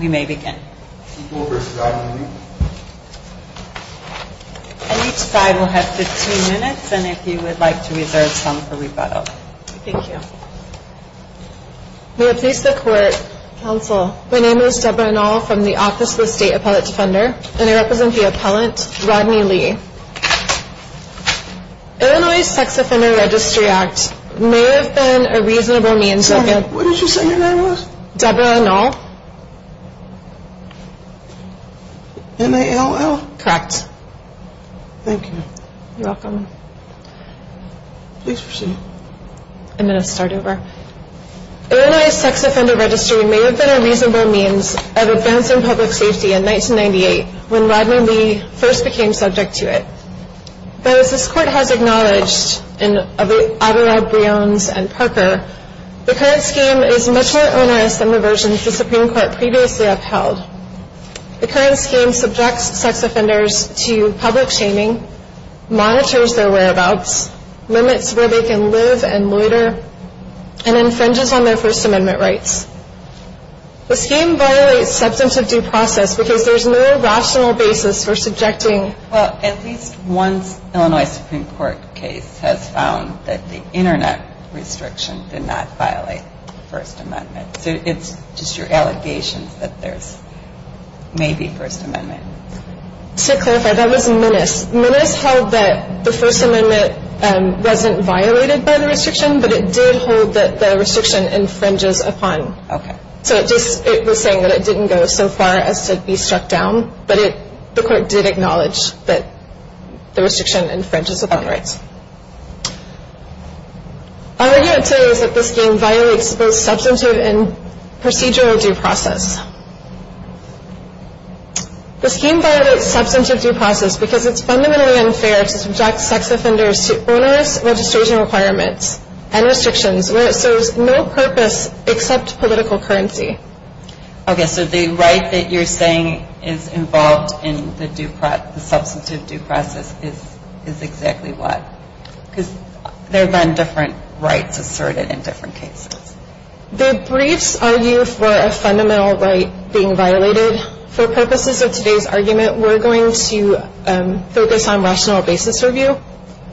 May I please the court, counsel, my name is Debra Anahl from the Office of the State Appellate Defender and I represent the appellant, Rodney Lee. Illinois Sex Offender Registry Act may have been a reasonable means of advancing public safety in 1998 when Rodney Lee first and Parker, the current scheme is much more onerous than the versions the Supreme Court previously upheld. The current scheme subjects sex offenders to public shaming, monitors their whereabouts, limits where they can live and loiter, and infringes on their First Amendment rights. The scheme violates substantive due process because there is no rational basis for subjecting. At least one Illinois Supreme Court case has found that the internet restriction did not violate the First Amendment. So it's just your allegations that there may be First Amendment. To clarify, that was Minnis. Minnis held that the First Amendment wasn't violated by the restriction, but it did hold that the restriction infringes upon. So it was saying that it didn't go so far as to be struck down, but the court did acknowledge that the restriction infringes upon rights. Our argument today is that the scheme violates both substantive and procedural due process. The scheme violates substantive due process because it's fundamentally unfair to subject sex offenders to onerous registration requirements and restrictions where it serves no purpose except political currency. Okay, so the right that you're saying is involved in the substantive due process is exactly what? Because there have been different rights asserted in different cases. The briefs argue for a fundamental right being violated. For purposes of today's argument, we're going to focus on rational basis review.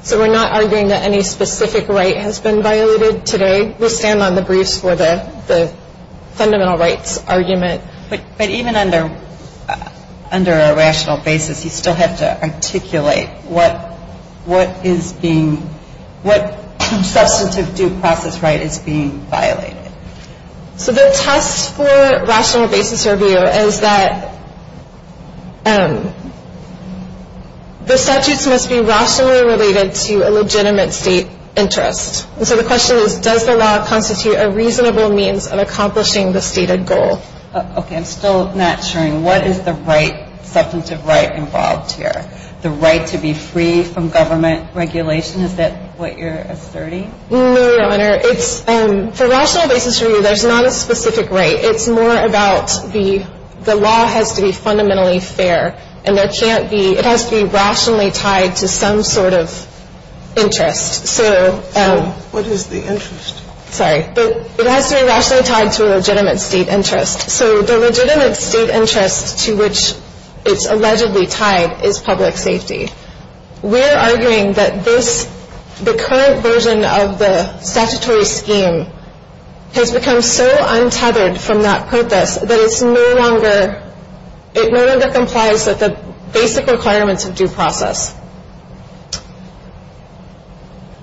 So we're not arguing that any specific right has been violated today. We'll stand on the briefs for the fundamental rights argument. But even under a rational basis, you still have to articulate what is being, what substantive due process right is being violated. So the test for rational basis review is that the statutes must be rationally related to the statute. And so the question is, does the law constitute a reasonable means of accomplishing the stated goal? Okay, I'm still not sure. What is the right, substantive right involved here? The right to be free from government regulation? Is that what you're asserting? No, Your Honor. It's, for rational basis review, there's not a specific right. It's more about the, the law has to be fundamentally fair. And there can't be, it has to be rationally tied to some sort of interest. So, what is the interest? Sorry, but it has to be rationally tied to a legitimate state interest. So the legitimate state interest to which it's allegedly tied is public safety. We're arguing that this, the current version of the statutory scheme has become so untethered from that purpose that it's no longer, it no longer implies that the basic requirements of due process.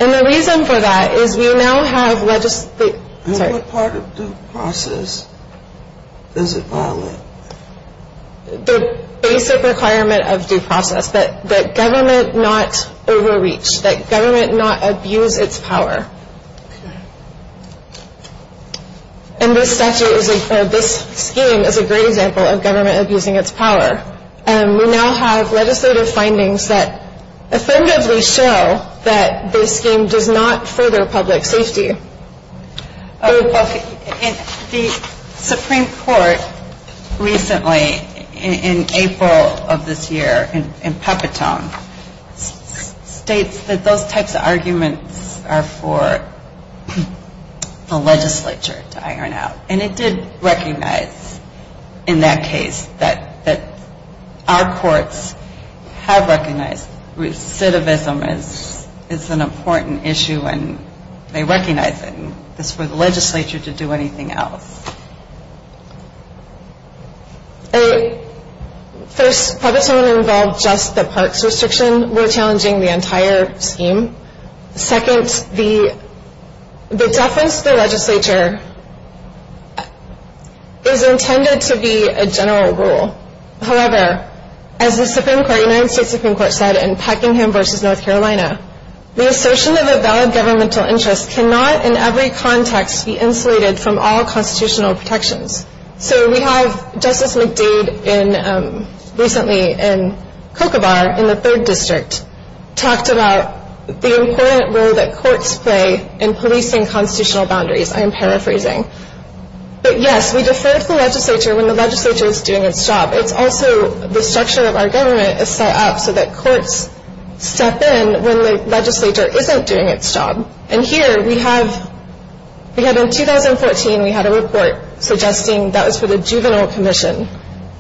And the reason for that is we now have legislate, sorry. And what part of due process does it violate? The basic requirement of due process, that, that government not overreach, that government not abuse its power. And this statute is a, this scheme is a great example of government abusing its power. And we now have legislative findings that affirmatively show that this scheme does not further public safety. Okay. And the Supreme Court recently in, in April of this year, in, in Papatone, states that those types of arguments are for the legislature to iron out. And it did recognize in that case that, that our courts have recognized recidivism is, is an important issue and they recognize it. And it's for the legislature to do anything else. First, Papatone involved just the parks restriction. We're challenging the entire scheme. Second, the, the deference to the legislature is intended to be a general rule. However, as the Supreme Court, United States Supreme Court said in Peckingham v. North Carolina, the assertion of a valid governmental interest cannot in every context be insulated from all constitutional protections. So we have Justice McDade in, recently in Kocobar, in the third district, talked about the important role that courts play in policing constitutional boundaries. I am paraphrasing. But yes, we defer to the legislature when the legislature is doing its job. It's also the structure of our government is set up so that courts step in when the legislature isn't doing its job. And here we have, we had in 2014, we had a report suggesting that was for the juvenile commission,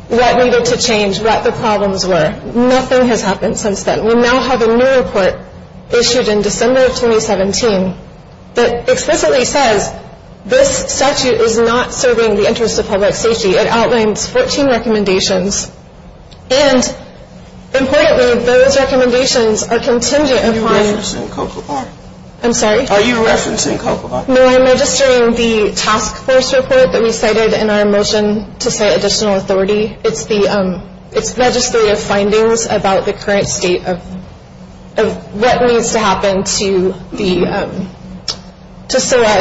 what needed to change, what the problems were. Nothing has happened since then. We now have a new report issued in December of 2017 that explicitly says this statute is not serving the interest of public safety. It outlines 14 recommendations. And importantly, those recommendations are contingent upon... Are you referencing Kocobar? I'm sorry? Are you referencing Kocobar? No, I'm registering the task force report that we cited in our motion to say additional authority. It's the, it's legislative findings about the current state of, of what needs to happen to the,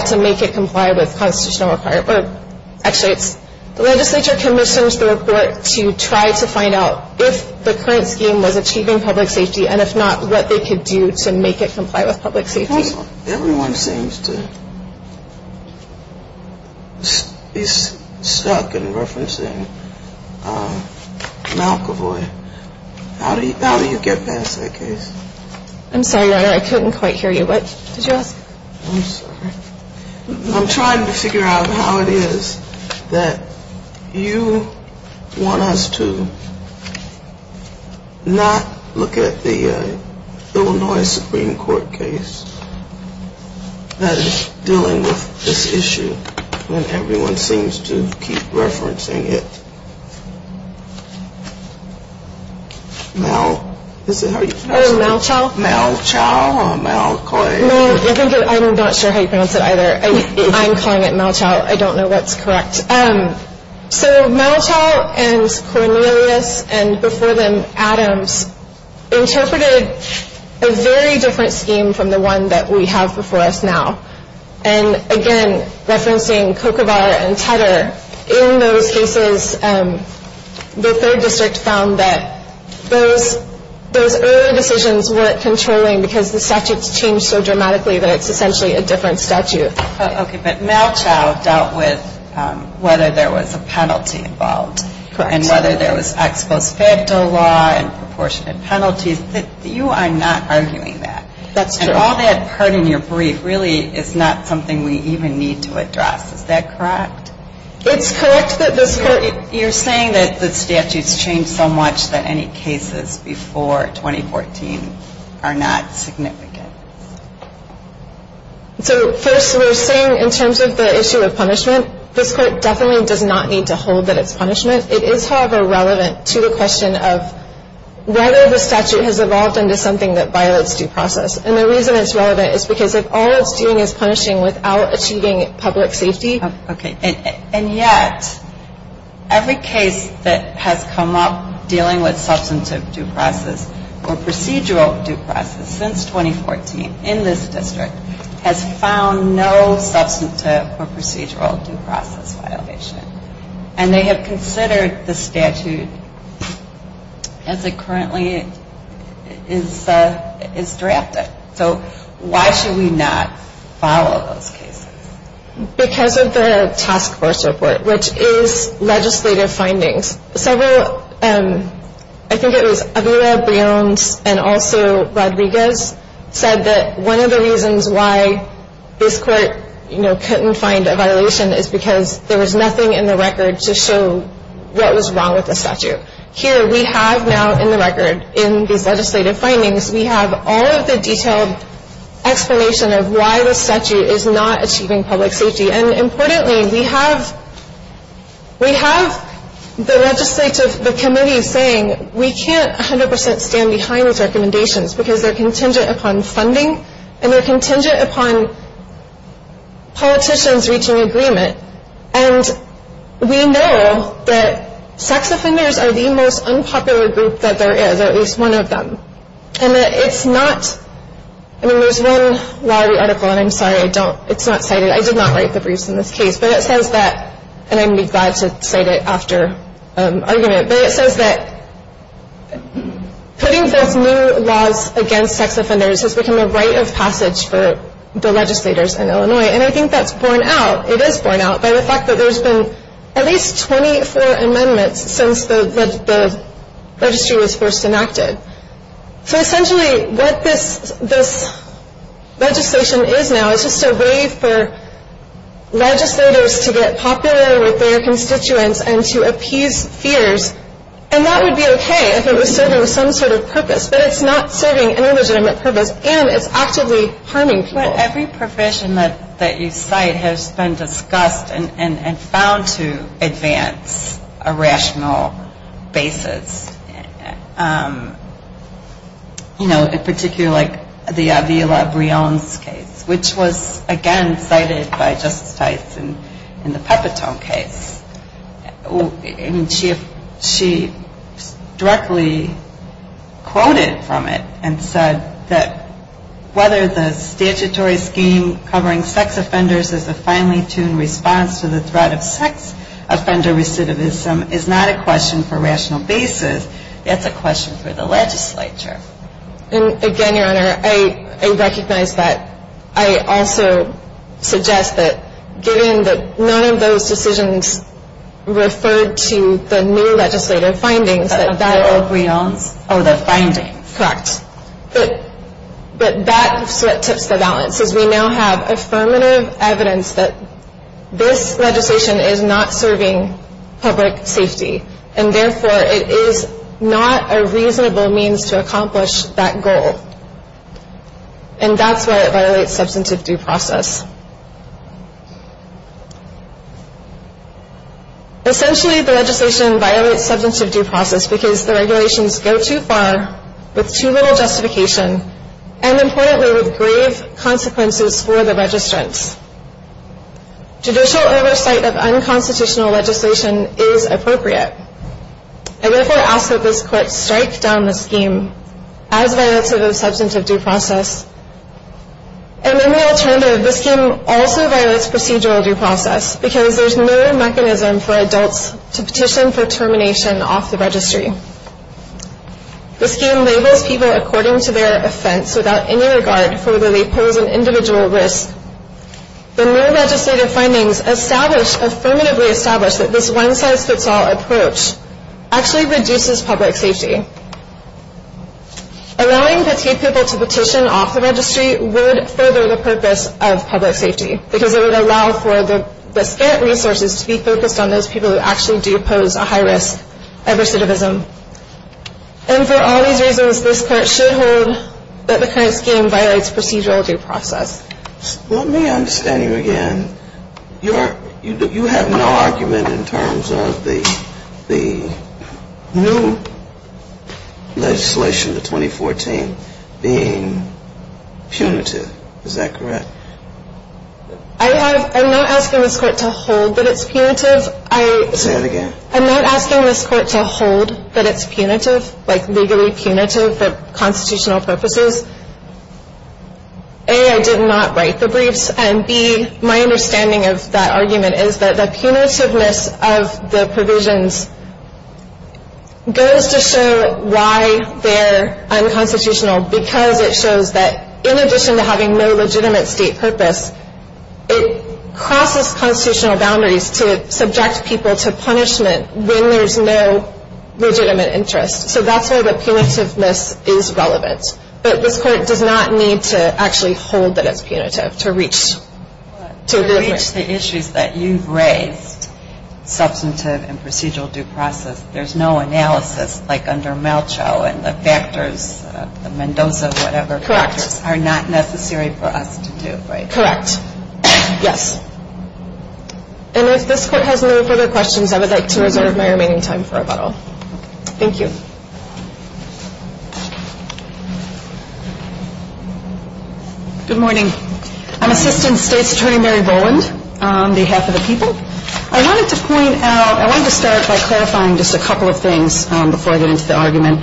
to make it comply with constitutional requirements. Actually, it's the legislature commissions the report to try to find out if the current scheme was achieving public safety and if not, what they could do to make it comply with public safety. Everyone seems to be stuck in referencing Malkavoy. How do you, how do you get past that case? I'm sorry, I couldn't quite hear you. What did you ask? I'm sorry. I'm trying to figure out how it is that you want us to not look at the Illinois Supreme Court case and dealing with this issue when everyone seems to keep referencing it. Mal, is it, how do you pronounce it? Malchow? Malchow or Malcoy? Mal, I think, I'm not sure how you pronounce it either. I'm calling it Malchow. I don't know what's correct. So Malchow and Cornelius and before them Adams interpreted a very different scheme from the one that we have before us now. And again, referencing Kokobar and Tedder, in those cases, the third district found that those, those earlier decisions weren't controlling because the statute's changed so dramatically that it's essentially a different statute. Okay, but Malchow dealt with whether there was a penalty involved. Correct. And whether there was ex post facto law and proportionate penalties. You are not arguing that. That's true. And all that part in your brief really is not something we even need to address. Is that correct? It's correct that this court You're saying that the statute's changed so much that any cases before 2014 are not significant. So first we're saying in terms of the issue of punishment, this court definitely does not need to hold that it's punishment. It is, however, relevant to the question of whether the statute has evolved into something that violates due process. And the reason it's relevant is because if all it's doing is punishing without achieving public safety Okay. And yet every case that has come up dealing with substantive due process or procedural due process since 2014 in this district has found no substantive or procedural due process violation. And they have considered the statute as it currently is drafted. So why should we not follow those cases? Because of the task force report, which is legislative findings. I think it was Avila Briones and also Rodriguez said that one of the reasons why this court couldn't find a violation is because there was nothing in the record to show what was wrong with the statute. Here we have now in the record, in these legislative findings, we have all of the detailed explanation of why the statute is not achieving public safety. And importantly, we have the legislative committee saying we can't 100% stand behind these recommendations because they're contingent upon funding and they're contingent upon politicians reaching agreement. And we know that sex offenders are the most unpopular group that there is, or at least one of them. And it's not, I mean, there's one law in the article, and I'm sorry, I don't, it's not cited. I did not write the briefs in this case, but it says that, and I'd be glad to cite it after argument, but it says that putting forth new laws against sex offenders has become a rite of passage for the legislators in Illinois. And I think that's borne out, it is borne out by the fact that there's been at least 24 amendments since the registry was first enacted. So essentially what this legislation is now is just a way for legislators to get popular with their constituents and to appease fears, and that would be okay if it was serving some sort of purpose. But it's not serving any legitimate purpose, and it's actively harming people. But every provision that you cite has been discussed and found to advance a rational basis, you know, in particular like the Avila-Briones case, which was, again, cited by Justice Tice in the Peppertone case. And she directly quoted from it and said that whether the statutory scheme covering sex offenders as a finely tuned response to the threat of sex offender recidivism is not a question for rational basis, that's a question for the legislature. And again, Your Honor, I recognize that. I also suggest that given that none of those decisions referred to the new legislative findings, that that... Avila-Briones, oh, the findings. Correct. But that tips the balance, as we now have affirmative evidence that this legislation is not serving public safety, and therefore it is not a reasonable means to accomplish that goal. And that's why it violates substantive due process. Essentially, the legislation violates substantive due process because the regulations go too far with too little justification and, importantly, with grave consequences for the registrants. Judicial oversight of unconstitutional legislation is appropriate. I therefore ask that this Court strike down the scheme as violates of the substantive due process. And then the alternative, the scheme also violates procedural due process because there's no mechanism for adults to petition for termination off the registry. The scheme labels people according to their offense without any regard for whether they pose an individual risk The new legislative findings establish, affirmatively establish, that this one-size-fits-all approach actually reduces public safety. Allowing petite people to petition off the registry would further the purpose of public safety because it would allow for the scant resources to be focused on those people who actually do pose a high risk of recidivism. And for all these reasons, this Court should hold that the current scheme violates procedural due process. Let me understand you again. You have no argument in terms of the new legislation, the 2014, being punitive. Is that correct? I'm not asking this Court to hold that it's punitive. Say that again. I'm not asking this Court to hold that it's punitive, like legally punitive for constitutional purposes. A, I did not write the briefs. And B, my understanding of that argument is that the punitiveness of the provisions goes to show why they're unconstitutional because it shows that in addition to having no legitimate state purpose, it crosses constitutional boundaries to subject people to punishment when there's no legitimate interest. So that's why the punitiveness is relevant. But this Court does not need to actually hold that it's punitive to reach the agreement. But to reach the issues that you've raised, substantive and procedural due process, there's no analysis like under Malchow and the factors, the Mendoza whatever factors, are not necessary for us to do, right? Correct. Yes. And if this Court has no further questions, I would like to reserve my remaining time for rebuttal. Thank you. Good morning. I'm Assistant State's Attorney Mary Boland on behalf of the people. I wanted to point out, I wanted to start by clarifying just a couple of things before I get into the argument.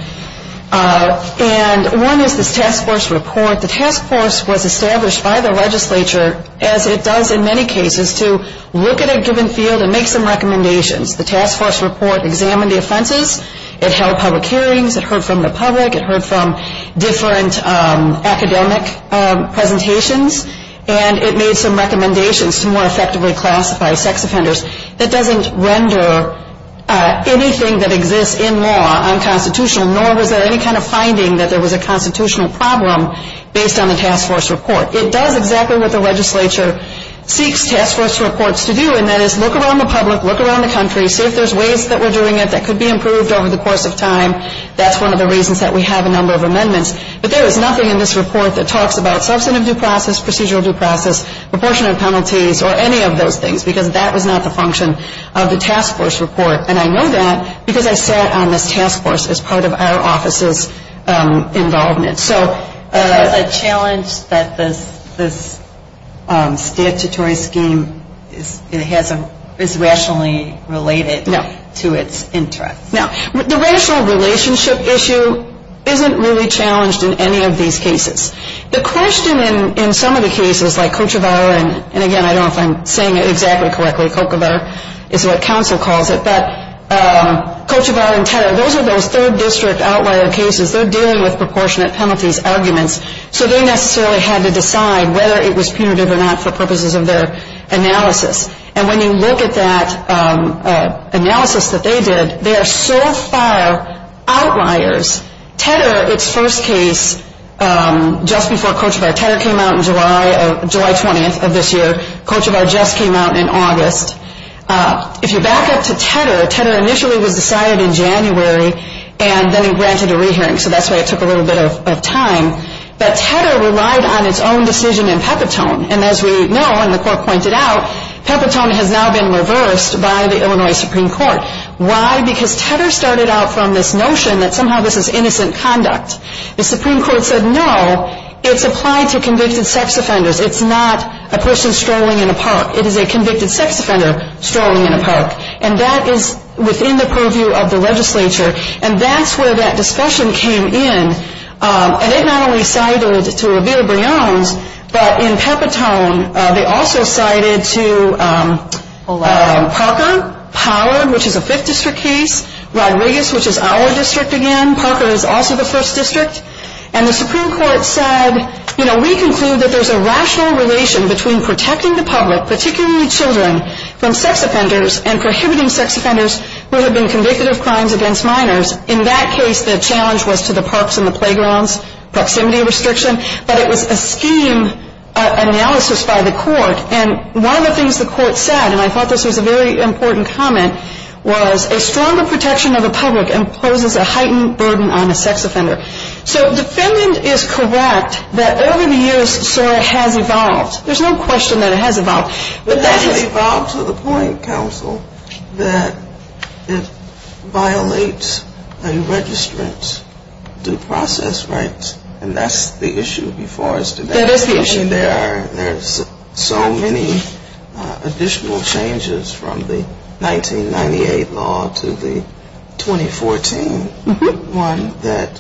And one is this task force report. The task force was established by the legislature, as it does in many cases, to look at a given field and make some recommendations. The task force report examined the offenses. It held public hearings. It heard from the public. It heard from different academic presentations. And it made some recommendations to more effectively classify sex offenders. That doesn't render anything that exists in law unconstitutional, nor was there any kind of finding that there was a constitutional problem based on the task force report. It does exactly what the legislature seeks task force reports to do, and that is look around the public, look around the country, see if there's ways that we're doing it that could be improved over the course of time. That's one of the reasons that we have a number of amendments. But there is nothing in this report that talks about substantive due process, procedural due process, proportionate penalties, or any of those things, because that was not the function of the task force report. And I know that because I sat on this task force as part of our office's involvement. So the challenge that this statutory scheme is rationally related to its interests. Now, the rational relationship issue isn't really challenged in any of these cases. The question in some of the cases, like Kochevar, and again, I don't know if I'm saying it exactly correctly, Kochevar is what counsel calls it, but Kochevar and Tedder, those are those third district outlier cases. They're dealing with proportionate penalties arguments. So they necessarily had to decide whether it was punitive or not for purposes of their analysis. And when you look at that analysis that they did, they are so far outliers. Tedder, its first case, just before Kochevar, Tedder came out on July 20th of this year. Kochevar just came out in August. If you back up to Tedder, Tedder initially was decided in January and then granted a re-hearing. So that's why it took a little bit of time. But Tedder relied on its own decision in Pepitone. And as we know, and the Court pointed out, Pepitone has now been reversed by the Illinois Supreme Court. Why? Because Tedder started out from this notion that somehow this is innocent conduct. The Supreme Court said, no, it's applied to convicted sex offenders. It's not a person strolling in a park. It is a convicted sex offender strolling in a park. And that is within the purview of the legislature. And that's where that discussion came in. And it not only cited to Revere-Briones, but in Pepitone, they also cited to Parker, Pollard, which is a 5th district case. Rodriguez, which is our district again. Parker is also the 1st district. And the Supreme Court said, you know, we conclude that there's a rational relation between protecting the public, particularly children, from sex offenders and prohibiting sex offenders who have been convicted of crimes against minors. In that case, the challenge was to the parks and the playgrounds, proximity restriction. But it was a scheme analysis by the Court. And one of the things the Court said, and I thought this was a very important comment, was a stronger protection of the public imposes a heightened burden on a sex offender. So defendant is correct that over the years, SOAR has evolved. There's no question that it has evolved. It has evolved to the point, counsel, that it violates a registrant's due process rights. And that's the issue before us today. That is the issue. There's so many additional changes from the 1998 law to the 2014 one that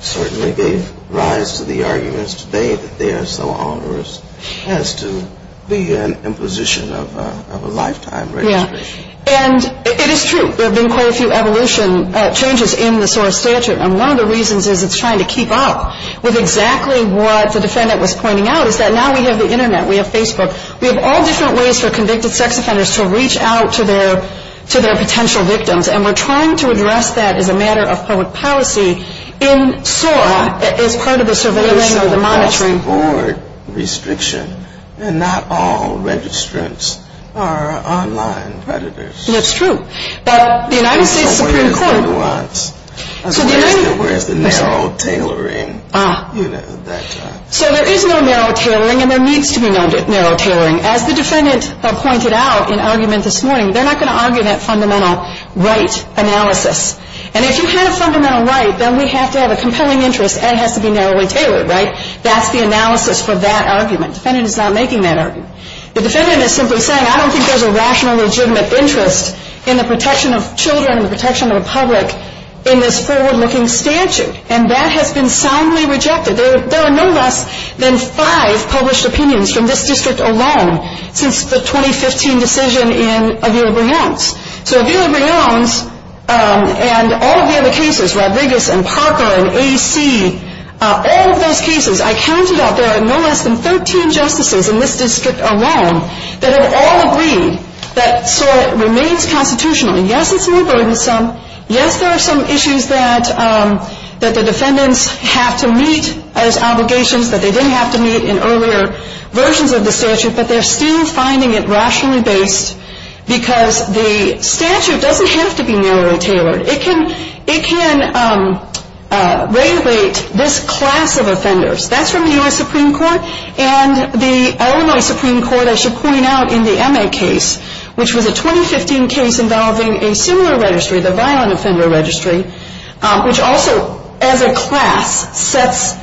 certainly gave rise to the arguments today that they are so onerous as to the imposition of a lifetime registration. Yeah. And it is true. There have been quite a few evolution changes in the SOAR statute. And one of the reasons is it's trying to keep up with exactly what the defendant was pointing out, is that now we have the Internet. We have Facebook. We have all different ways for convicted sex offenders to reach out to their potential victims. And we're trying to address that as a matter of public policy in SOAR as part of the surveillance and the monitoring. There is no cross-board restriction. And not all registrants are online predators. That's true. But the United States Supreme Court— Where is the narrow tailoring? Ah. You know, that's right. So there is no narrow tailoring, and there needs to be no narrow tailoring. As the defendant pointed out in argument this morning, they're not going to argue that fundamental right analysis. And if you have a fundamental right, then we have to have a compelling interest, and it has to be narrowly tailored, right? That's the analysis for that argument. The defendant is not making that argument. The defendant is simply saying, I don't think there's a rational, legitimate interest in the protection of children and the protection of the public in this forward-looking statute. And that has been soundly rejected. There are no less than five published opinions from this district alone since the 2015 decision in Avila Brion's. So Avila Brion's and all of the other cases—Rodriguez and Parker and AC—all of those cases, I counted out, there are no less than 13 justices in this district alone that have all agreed that SOAR remains constitutional. And yes, it's more burdensome. Yes, there are some issues that the defendants have to meet as obligations that they didn't have to meet in earlier versions of the statute, but they're still finding it rationally based because the statute doesn't have to be narrowly tailored. It can regulate this class of offenders. That's from the U.S. Supreme Court. And the Illinois Supreme Court, I should point out, in the MA case, which was a 2015 case involving a similar registry, the Violent Offender Registry, which also, as a class, sets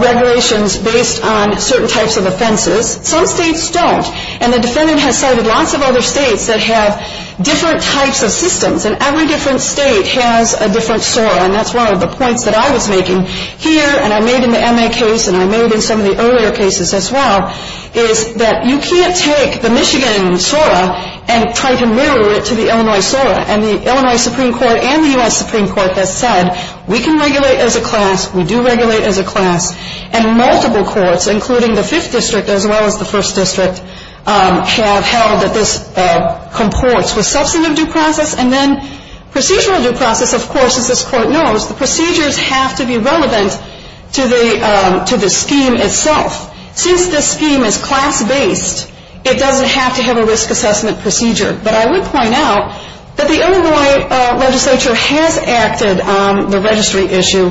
regulations based on certain types of offenses. Some states don't. And the defendant has cited lots of other states that have different types of systems. And every different state has a different SOAR. And that's one of the points that I was making here. And I made in the MA case and I made in some of the earlier cases as well, is that you can't take the Michigan SOAR and try to mirror it to the Illinois SOAR. And the Illinois Supreme Court and the U.S. Supreme Court have said we can regulate as a class, we do regulate as a class. And multiple courts, including the Fifth District as well as the First District, have held that this comports with substantive due process and then procedural due process. Of course, as this Court knows, the procedures have to be relevant to the scheme itself. Since this scheme is class-based, it doesn't have to have a risk assessment procedure. But I would point out that the Illinois legislature has acted on the registry issue,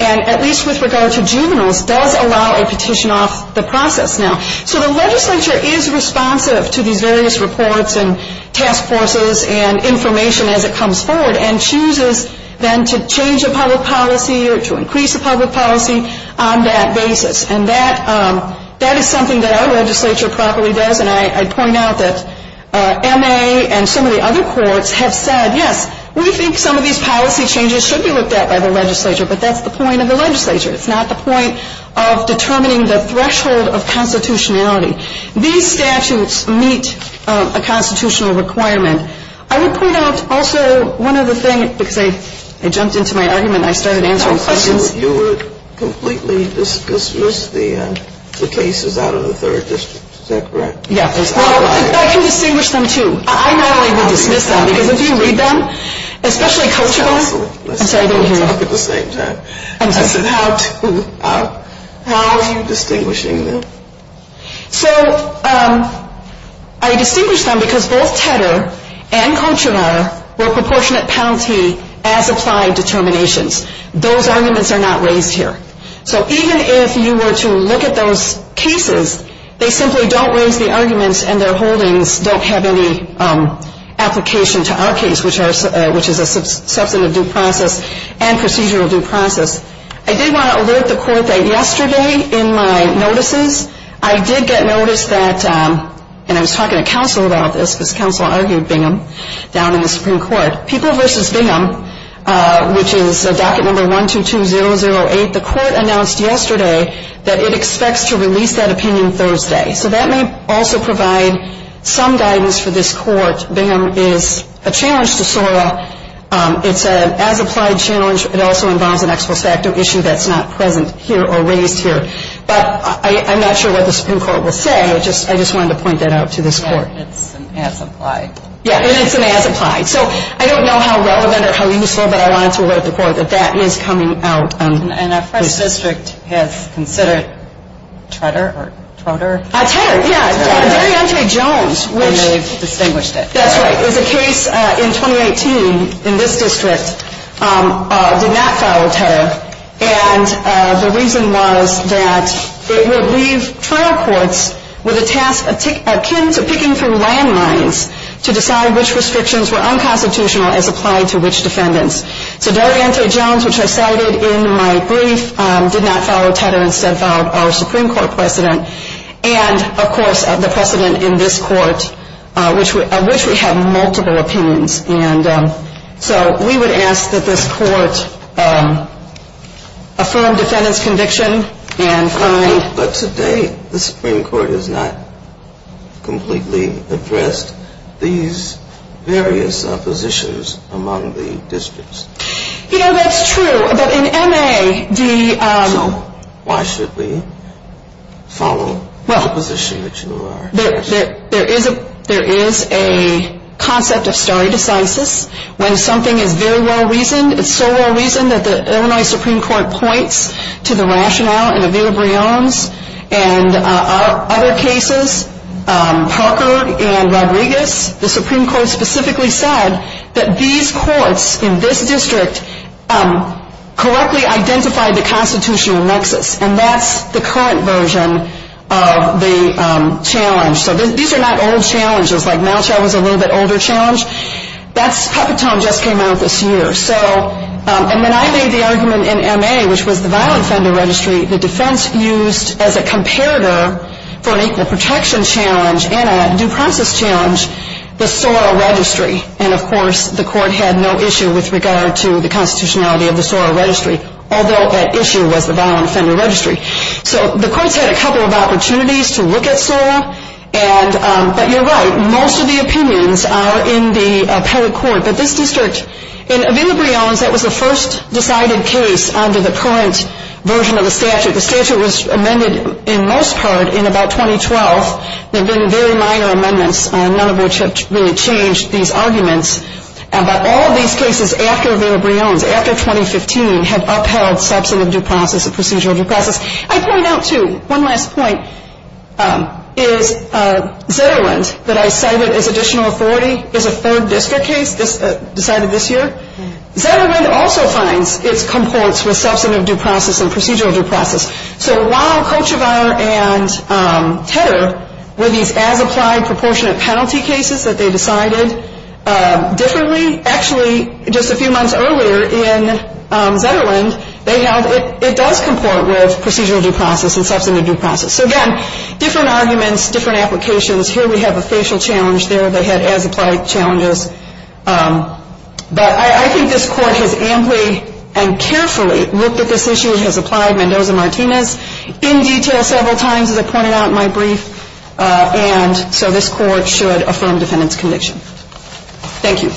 and at least with regard to juveniles, does allow a petition off the process now. So the legislature is responsive to these various reports and task forces and information as it comes forward and chooses then to change a public policy or to increase a public policy on that basis. And that is something that our legislature properly does. And I point out that MA and some of the other courts have said, yes, we think some of these policy changes should be looked at by the legislature, but that's the point of the legislature. It's not the point of determining the threshold of constitutionality. These statutes meet a constitutional requirement. I would point out also one other thing, because I jumped into my argument and I started answering questions. You would completely dismiss the cases out of the Third District. Is that correct? Yes. I can distinguish them, too. I normally would dismiss them, because if you read them, especially culturally. Absolutely. I'm sorry, I didn't hear you. Let's all talk at the same time. How are you distinguishing them? So I distinguish them because both Tedder and Cochran were proportionate penalty as applied determinations. Those arguments are not raised here. So even if you were to look at those cases, they simply don't raise the arguments and their holdings don't have any application to our case, which is a substantive due process and procedural due process. I did want to alert the Court that yesterday in my notices, I did get notice that, and I was talking to counsel about this, because counsel argued Bingham, down in the Supreme Court. People v. Bingham, which is docket number 122008, the Court announced yesterday that it expects to release that opinion Thursday. So that may also provide some guidance for this Court. Bingham is a challenge to SORA. It's an as-applied challenge. It also involves an ex post facto issue that's not present here or raised here. But I'm not sure what the Supreme Court will say. I just wanted to point that out to this Court. It's an as-applied. Yeah, and it's an as-applied. So I don't know how relevant or how useful, but I wanted to alert the Court that that is coming out. And our first district has considered Tedder or Trotter? Tedder, yeah. Terry Jones. And they've distinguished it. That's right. It's a case in 2018 in this district, did not follow Tedder. And the reason was that it would leave trial courts with a task akin to picking through landmines to decide which restrictions were unconstitutional as applied to which defendants. So D'Oriente Jones, which I cited in my brief, did not follow Tedder, instead followed our Supreme Court precedent. And, of course, the precedent in this Court, of which we have multiple opinions. And so we would ask that this Court affirm defendant's conviction and find. But today the Supreme Court has not completely addressed these various positions among the districts. You know, that's true. But in M.A., the... Well, there is a concept of stare decisis when something is very well-reasoned. It's so well-reasoned that the Illinois Supreme Court points to the rationale in Avila-Briones and other cases, Parker and Rodriguez. The Supreme Court specifically said that these courts in this district correctly identified the constitutional nexus. And that's the current version of the challenge. So these are not old challenges. Like, Malchow was a little bit older challenge. That's puppet tone just came out this year. And then I made the argument in M.A., which was the violent offender registry, the defense used as a comparator for an equal protection challenge and a due process challenge, the soror registry. And, of course, the Court had no issue with regard to the constitutionality of the soror registry. Although that issue was the violent offender registry. So the courts had a couple of opportunities to look at soror. But you're right. Most of the opinions are in the appellate court. But this district... In Avila-Briones, that was the first decided case under the current version of the statute. The statute was amended in most part in about 2012. There have been very minor amendments, none of which have really changed these arguments. But all of these cases after Avila-Briones, after 2015, have upheld substantive due process and procedural due process. I point out, too, one last point, is Zetterland, that I cited as additional authority, is a third district case decided this year. Zetterland also finds its components with substantive due process and procedural due process. So while Kochevar and Tedder were these as-applied proportionate penalty cases that they decided differently, actually just a few months earlier in Zetterland, they held it does comport with procedural due process and substantive due process. So, again, different arguments, different applications. Here we have a facial challenge there. They had as-applied challenges. But I think this court has amply and carefully looked at this issue. It has applied Mendoza-Martinez in detail several times, as I pointed out in my brief. And so this court should affirm defendant's conviction. Thank you.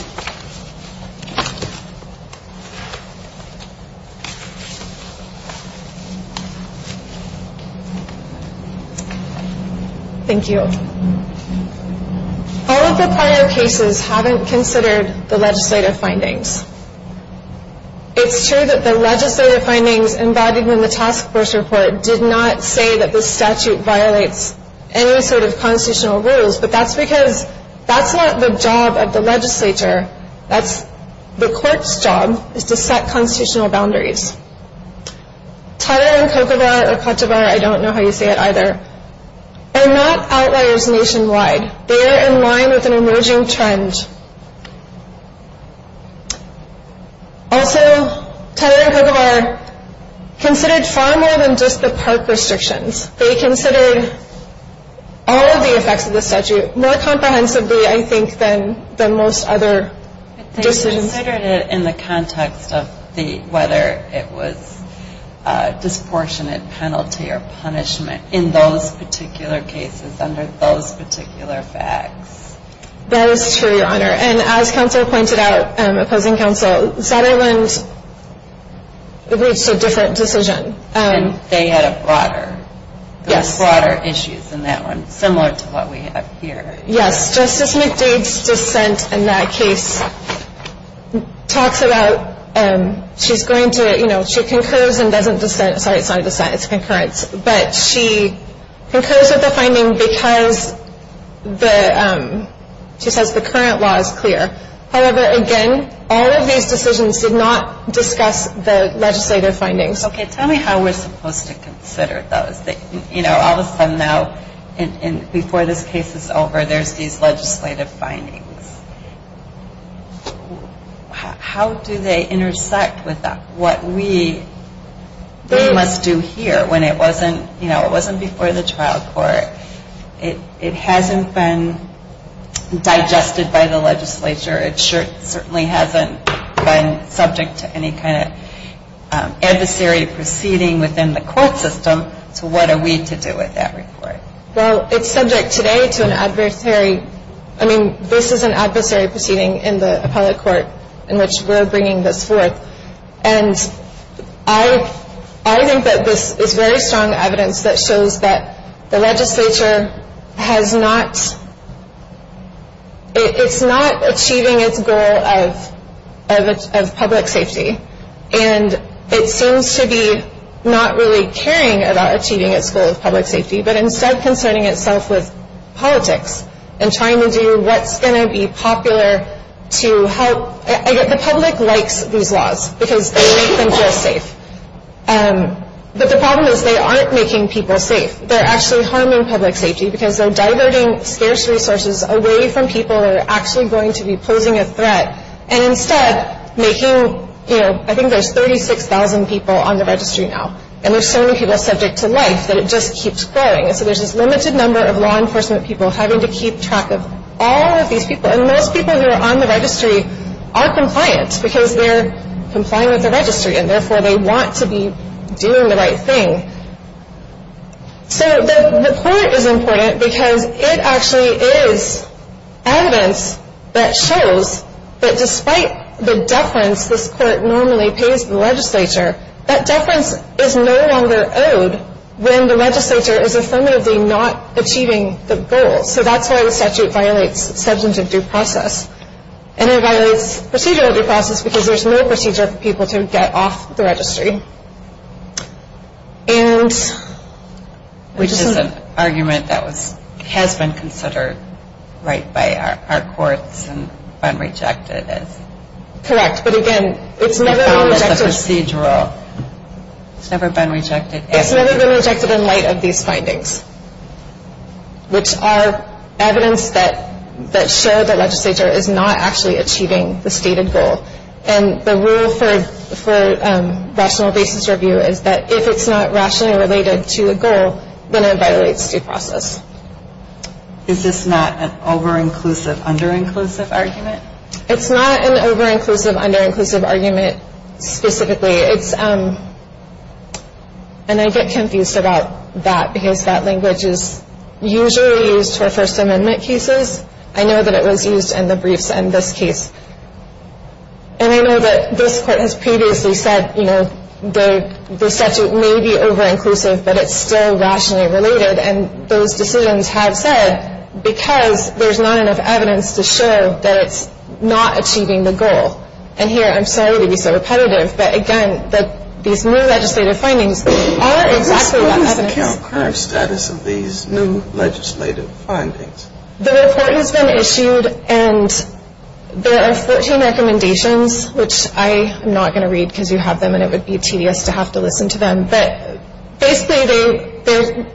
Thank you. All of the prior cases haven't considered the legislative findings. It's true that the legislative findings embodied in the task force report did not say that this statute violates any sort of constitutional rules, but that's because that's not the job of the legislature. That's the court's job, is to set constitutional boundaries. Tedder and Kochevar, or Kochevar, I don't know how you say it either, are not outliers nationwide. They are in line with an emerging trend. Also, Tedder and Kochevar considered far more than just the park restrictions. They considered all of the effects of the statute more comprehensively, I think, than most other decisions. But they considered it in the context of whether it was a disproportionate penalty or punishment in those particular cases under those particular facts. That is true, Your Honor. And as counsel pointed out, opposing counsel, Zetterlund reached a different decision. And they had a broader issue than that one, similar to what we have here. Yes. Justice McDade's dissent in that case talks about she's going to, you know, she concurs and doesn't dissent. Sorry, it's not a dissent, it's concurrence. But she concurs with the finding because she says the current law is clear. However, again, all of these decisions did not discuss the legislative findings. Okay. Tell me how we're supposed to consider those. You know, all of a sudden now, before this case is over, there's these legislative findings. How do they intersect with what we must do here when it wasn't, you know, it wasn't before the trial court? It hasn't been digested by the legislature. It certainly hasn't been subject to any kind of adversary proceeding within the court system. So what are we to do with that report? Well, it's subject today to an adversary. I mean, this is an adversary proceeding in the appellate court in which we're bringing this forth. And I think that this is very strong evidence that shows that the legislature has not, it's not achieving its goal of public safety. And it seems to be not really caring about achieving its goal of public safety, but instead concerning itself with politics and trying to do what's going to be popular to help. The public likes these laws because they make them feel safe. But the problem is they aren't making people safe. They're actually harming public safety because they're diverting scarce resources away from people that are actually going to be posing a threat. And instead making, you know, I think there's 36,000 people on the registry now. And there's so many people subject to life that it just keeps growing. And so there's this limited number of law enforcement people having to keep track of all of these people. And most people who are on the registry are compliant because they're complying with the registry and therefore they want to be doing the right thing. So the court is important because it actually is evidence that shows that despite the deference this court normally pays the legislature, that deference is no longer owed when the legislature is affirmatively not achieving the goal. So that's why the statute violates substantive due process. And it violates procedural due process because there's no procedure for people to get off the registry. And... Which is an argument that has been considered right by our courts and been rejected as... Correct. But again, it's never been rejected... As a procedural... It's never been rejected as... It's never been rejected in light of these findings which are evidence that show the legislature is not actually achieving the stated goal. And the rule for rational basis review is that if it's not rationally related to a goal, then it violates due process. Is this not an over-inclusive, under-inclusive argument? It's not an over-inclusive, under-inclusive argument specifically. It's... And I get confused about that because that language is usually used for First Amendment cases. I know that it was used in the briefs in this case. And I know that this court has previously said, you know, the statute may be over-inclusive, but it's still rationally related. And those decisions have said because there's not enough evidence to show that it's not achieving the goal. And here, I'm sorry to be so repetitive, but again, these new legislative findings are exactly what evidence... What is the current status of these new legislative findings? The report has been issued, and there are 14 recommendations, which I am not going to read because you have them, and it would be tedious to have to listen to them. But basically, they're...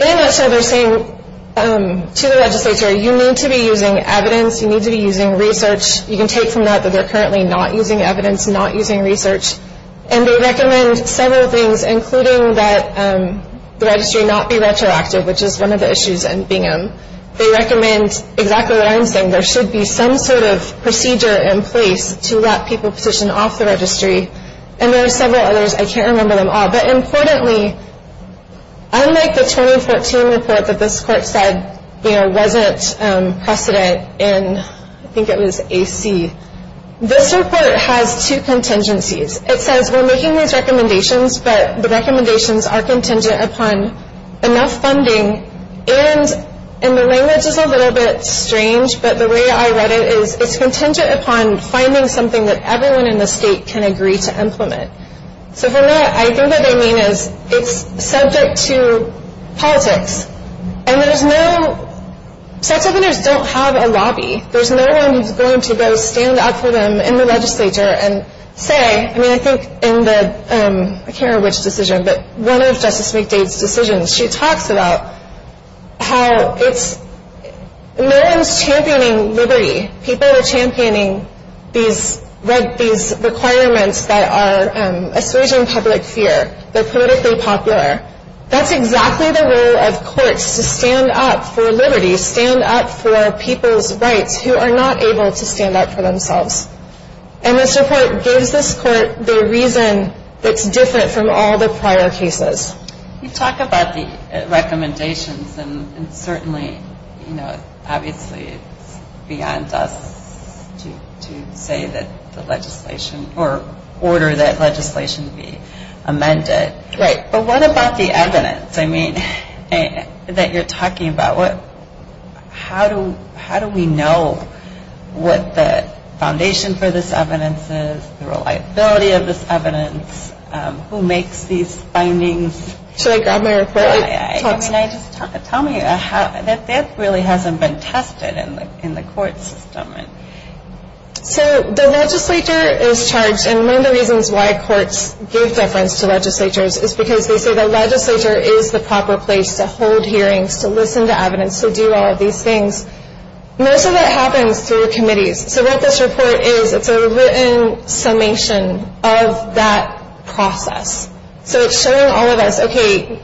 In a nutshell, they're saying to the legislature, you need to be using evidence, you need to be using research. You can take from that that they're currently not using evidence, not using research. And they recommend several things, including that the registry not be retroactive, which is one of the issues in Bingham. They recommend exactly what I'm saying. There should be some sort of procedure in place to let people position off the registry. And there are several others. I can't remember them all. But importantly, unlike the 2014 report that this court said, you know, wasn't precedent in... I think it was AC. This report has two contingencies. It says we're making these recommendations, but the recommendations are contingent upon enough funding. And the language is a little bit strange, but the way I read it is it's contingent upon finding something that everyone in the state can agree to implement. So from that, I think what they mean is it's subject to politics. And there's no... Sex offenders don't have a lobby. There's no one who's going to go stand up for them in the legislature and say... I mean, I think in the... I can't remember which decision, but one of Justice McDade's decisions, she talks about how it's... No one's championing liberty. People are championing these requirements that are assuaging public fear. They're politically popular. That's exactly the role of courts, to stand up for liberty, stand up for people's rights who are not able to stand up for themselves. And this report gives this court the reason that's different from all the prior cases. You talk about the recommendations, and certainly, you know, obviously it's beyond us to say that the legislation... or order that legislation be amended. Right. But what about the evidence? I mean, that you're talking about. How do we know what the foundation for this evidence is, the reliability of this evidence, who makes these findings? Should I grab my report? I mean, just tell me. That really hasn't been tested in the court system. So the legislature is charged, and one of the reasons why courts give deference to legislatures is because they say the legislature is the proper place to hold hearings, to listen to evidence, to do all of these things. Most of that happens through committees. So what this report is, it's a written summation of that process. So it's showing all of us, okay,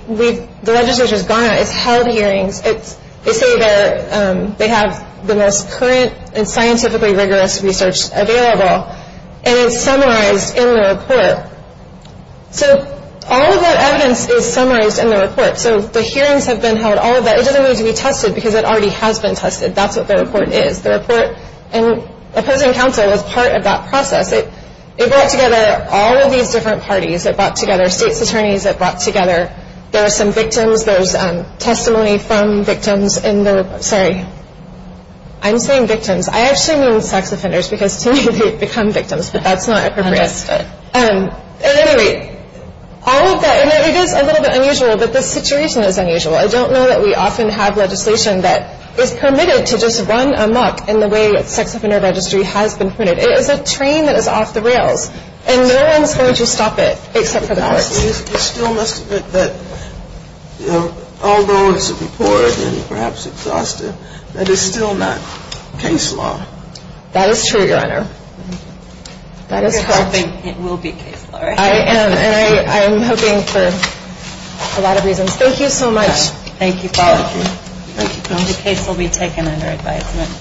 the legislature's gone, it's held hearings, they say they have the most current and scientifically rigorous research available, and it's summarized in the report. So all of that evidence is summarized in the report. So the hearings have been held, all of that. It doesn't need to be tested because it already has been tested. That's what the report is. The report and opposing counsel is part of that process. It brought together all of these different parties. It brought together states' attorneys. It brought together, there were some victims. There's testimony from victims in the report. Sorry, I'm saying victims. I actually mean sex offenders because to me they've become victims, but that's not appropriate. And anyway, all of that, and it is a little bit unusual, but the situation is unusual. I don't know that we often have legislation that is permitted to just run amok in the way that sex offender registry has been printed. It is a train that is off the rails, and no one's going to stop it except for the courts. It still must admit that, although it's a report and perhaps exhaustive, that it's still not case law. That is true, Your Honor. I'm just hoping it will be case law. I am, and I'm hoping for a lot of reasons. Thank you so much. Thank you, Paul. Thank you. The case will be taken under advisement.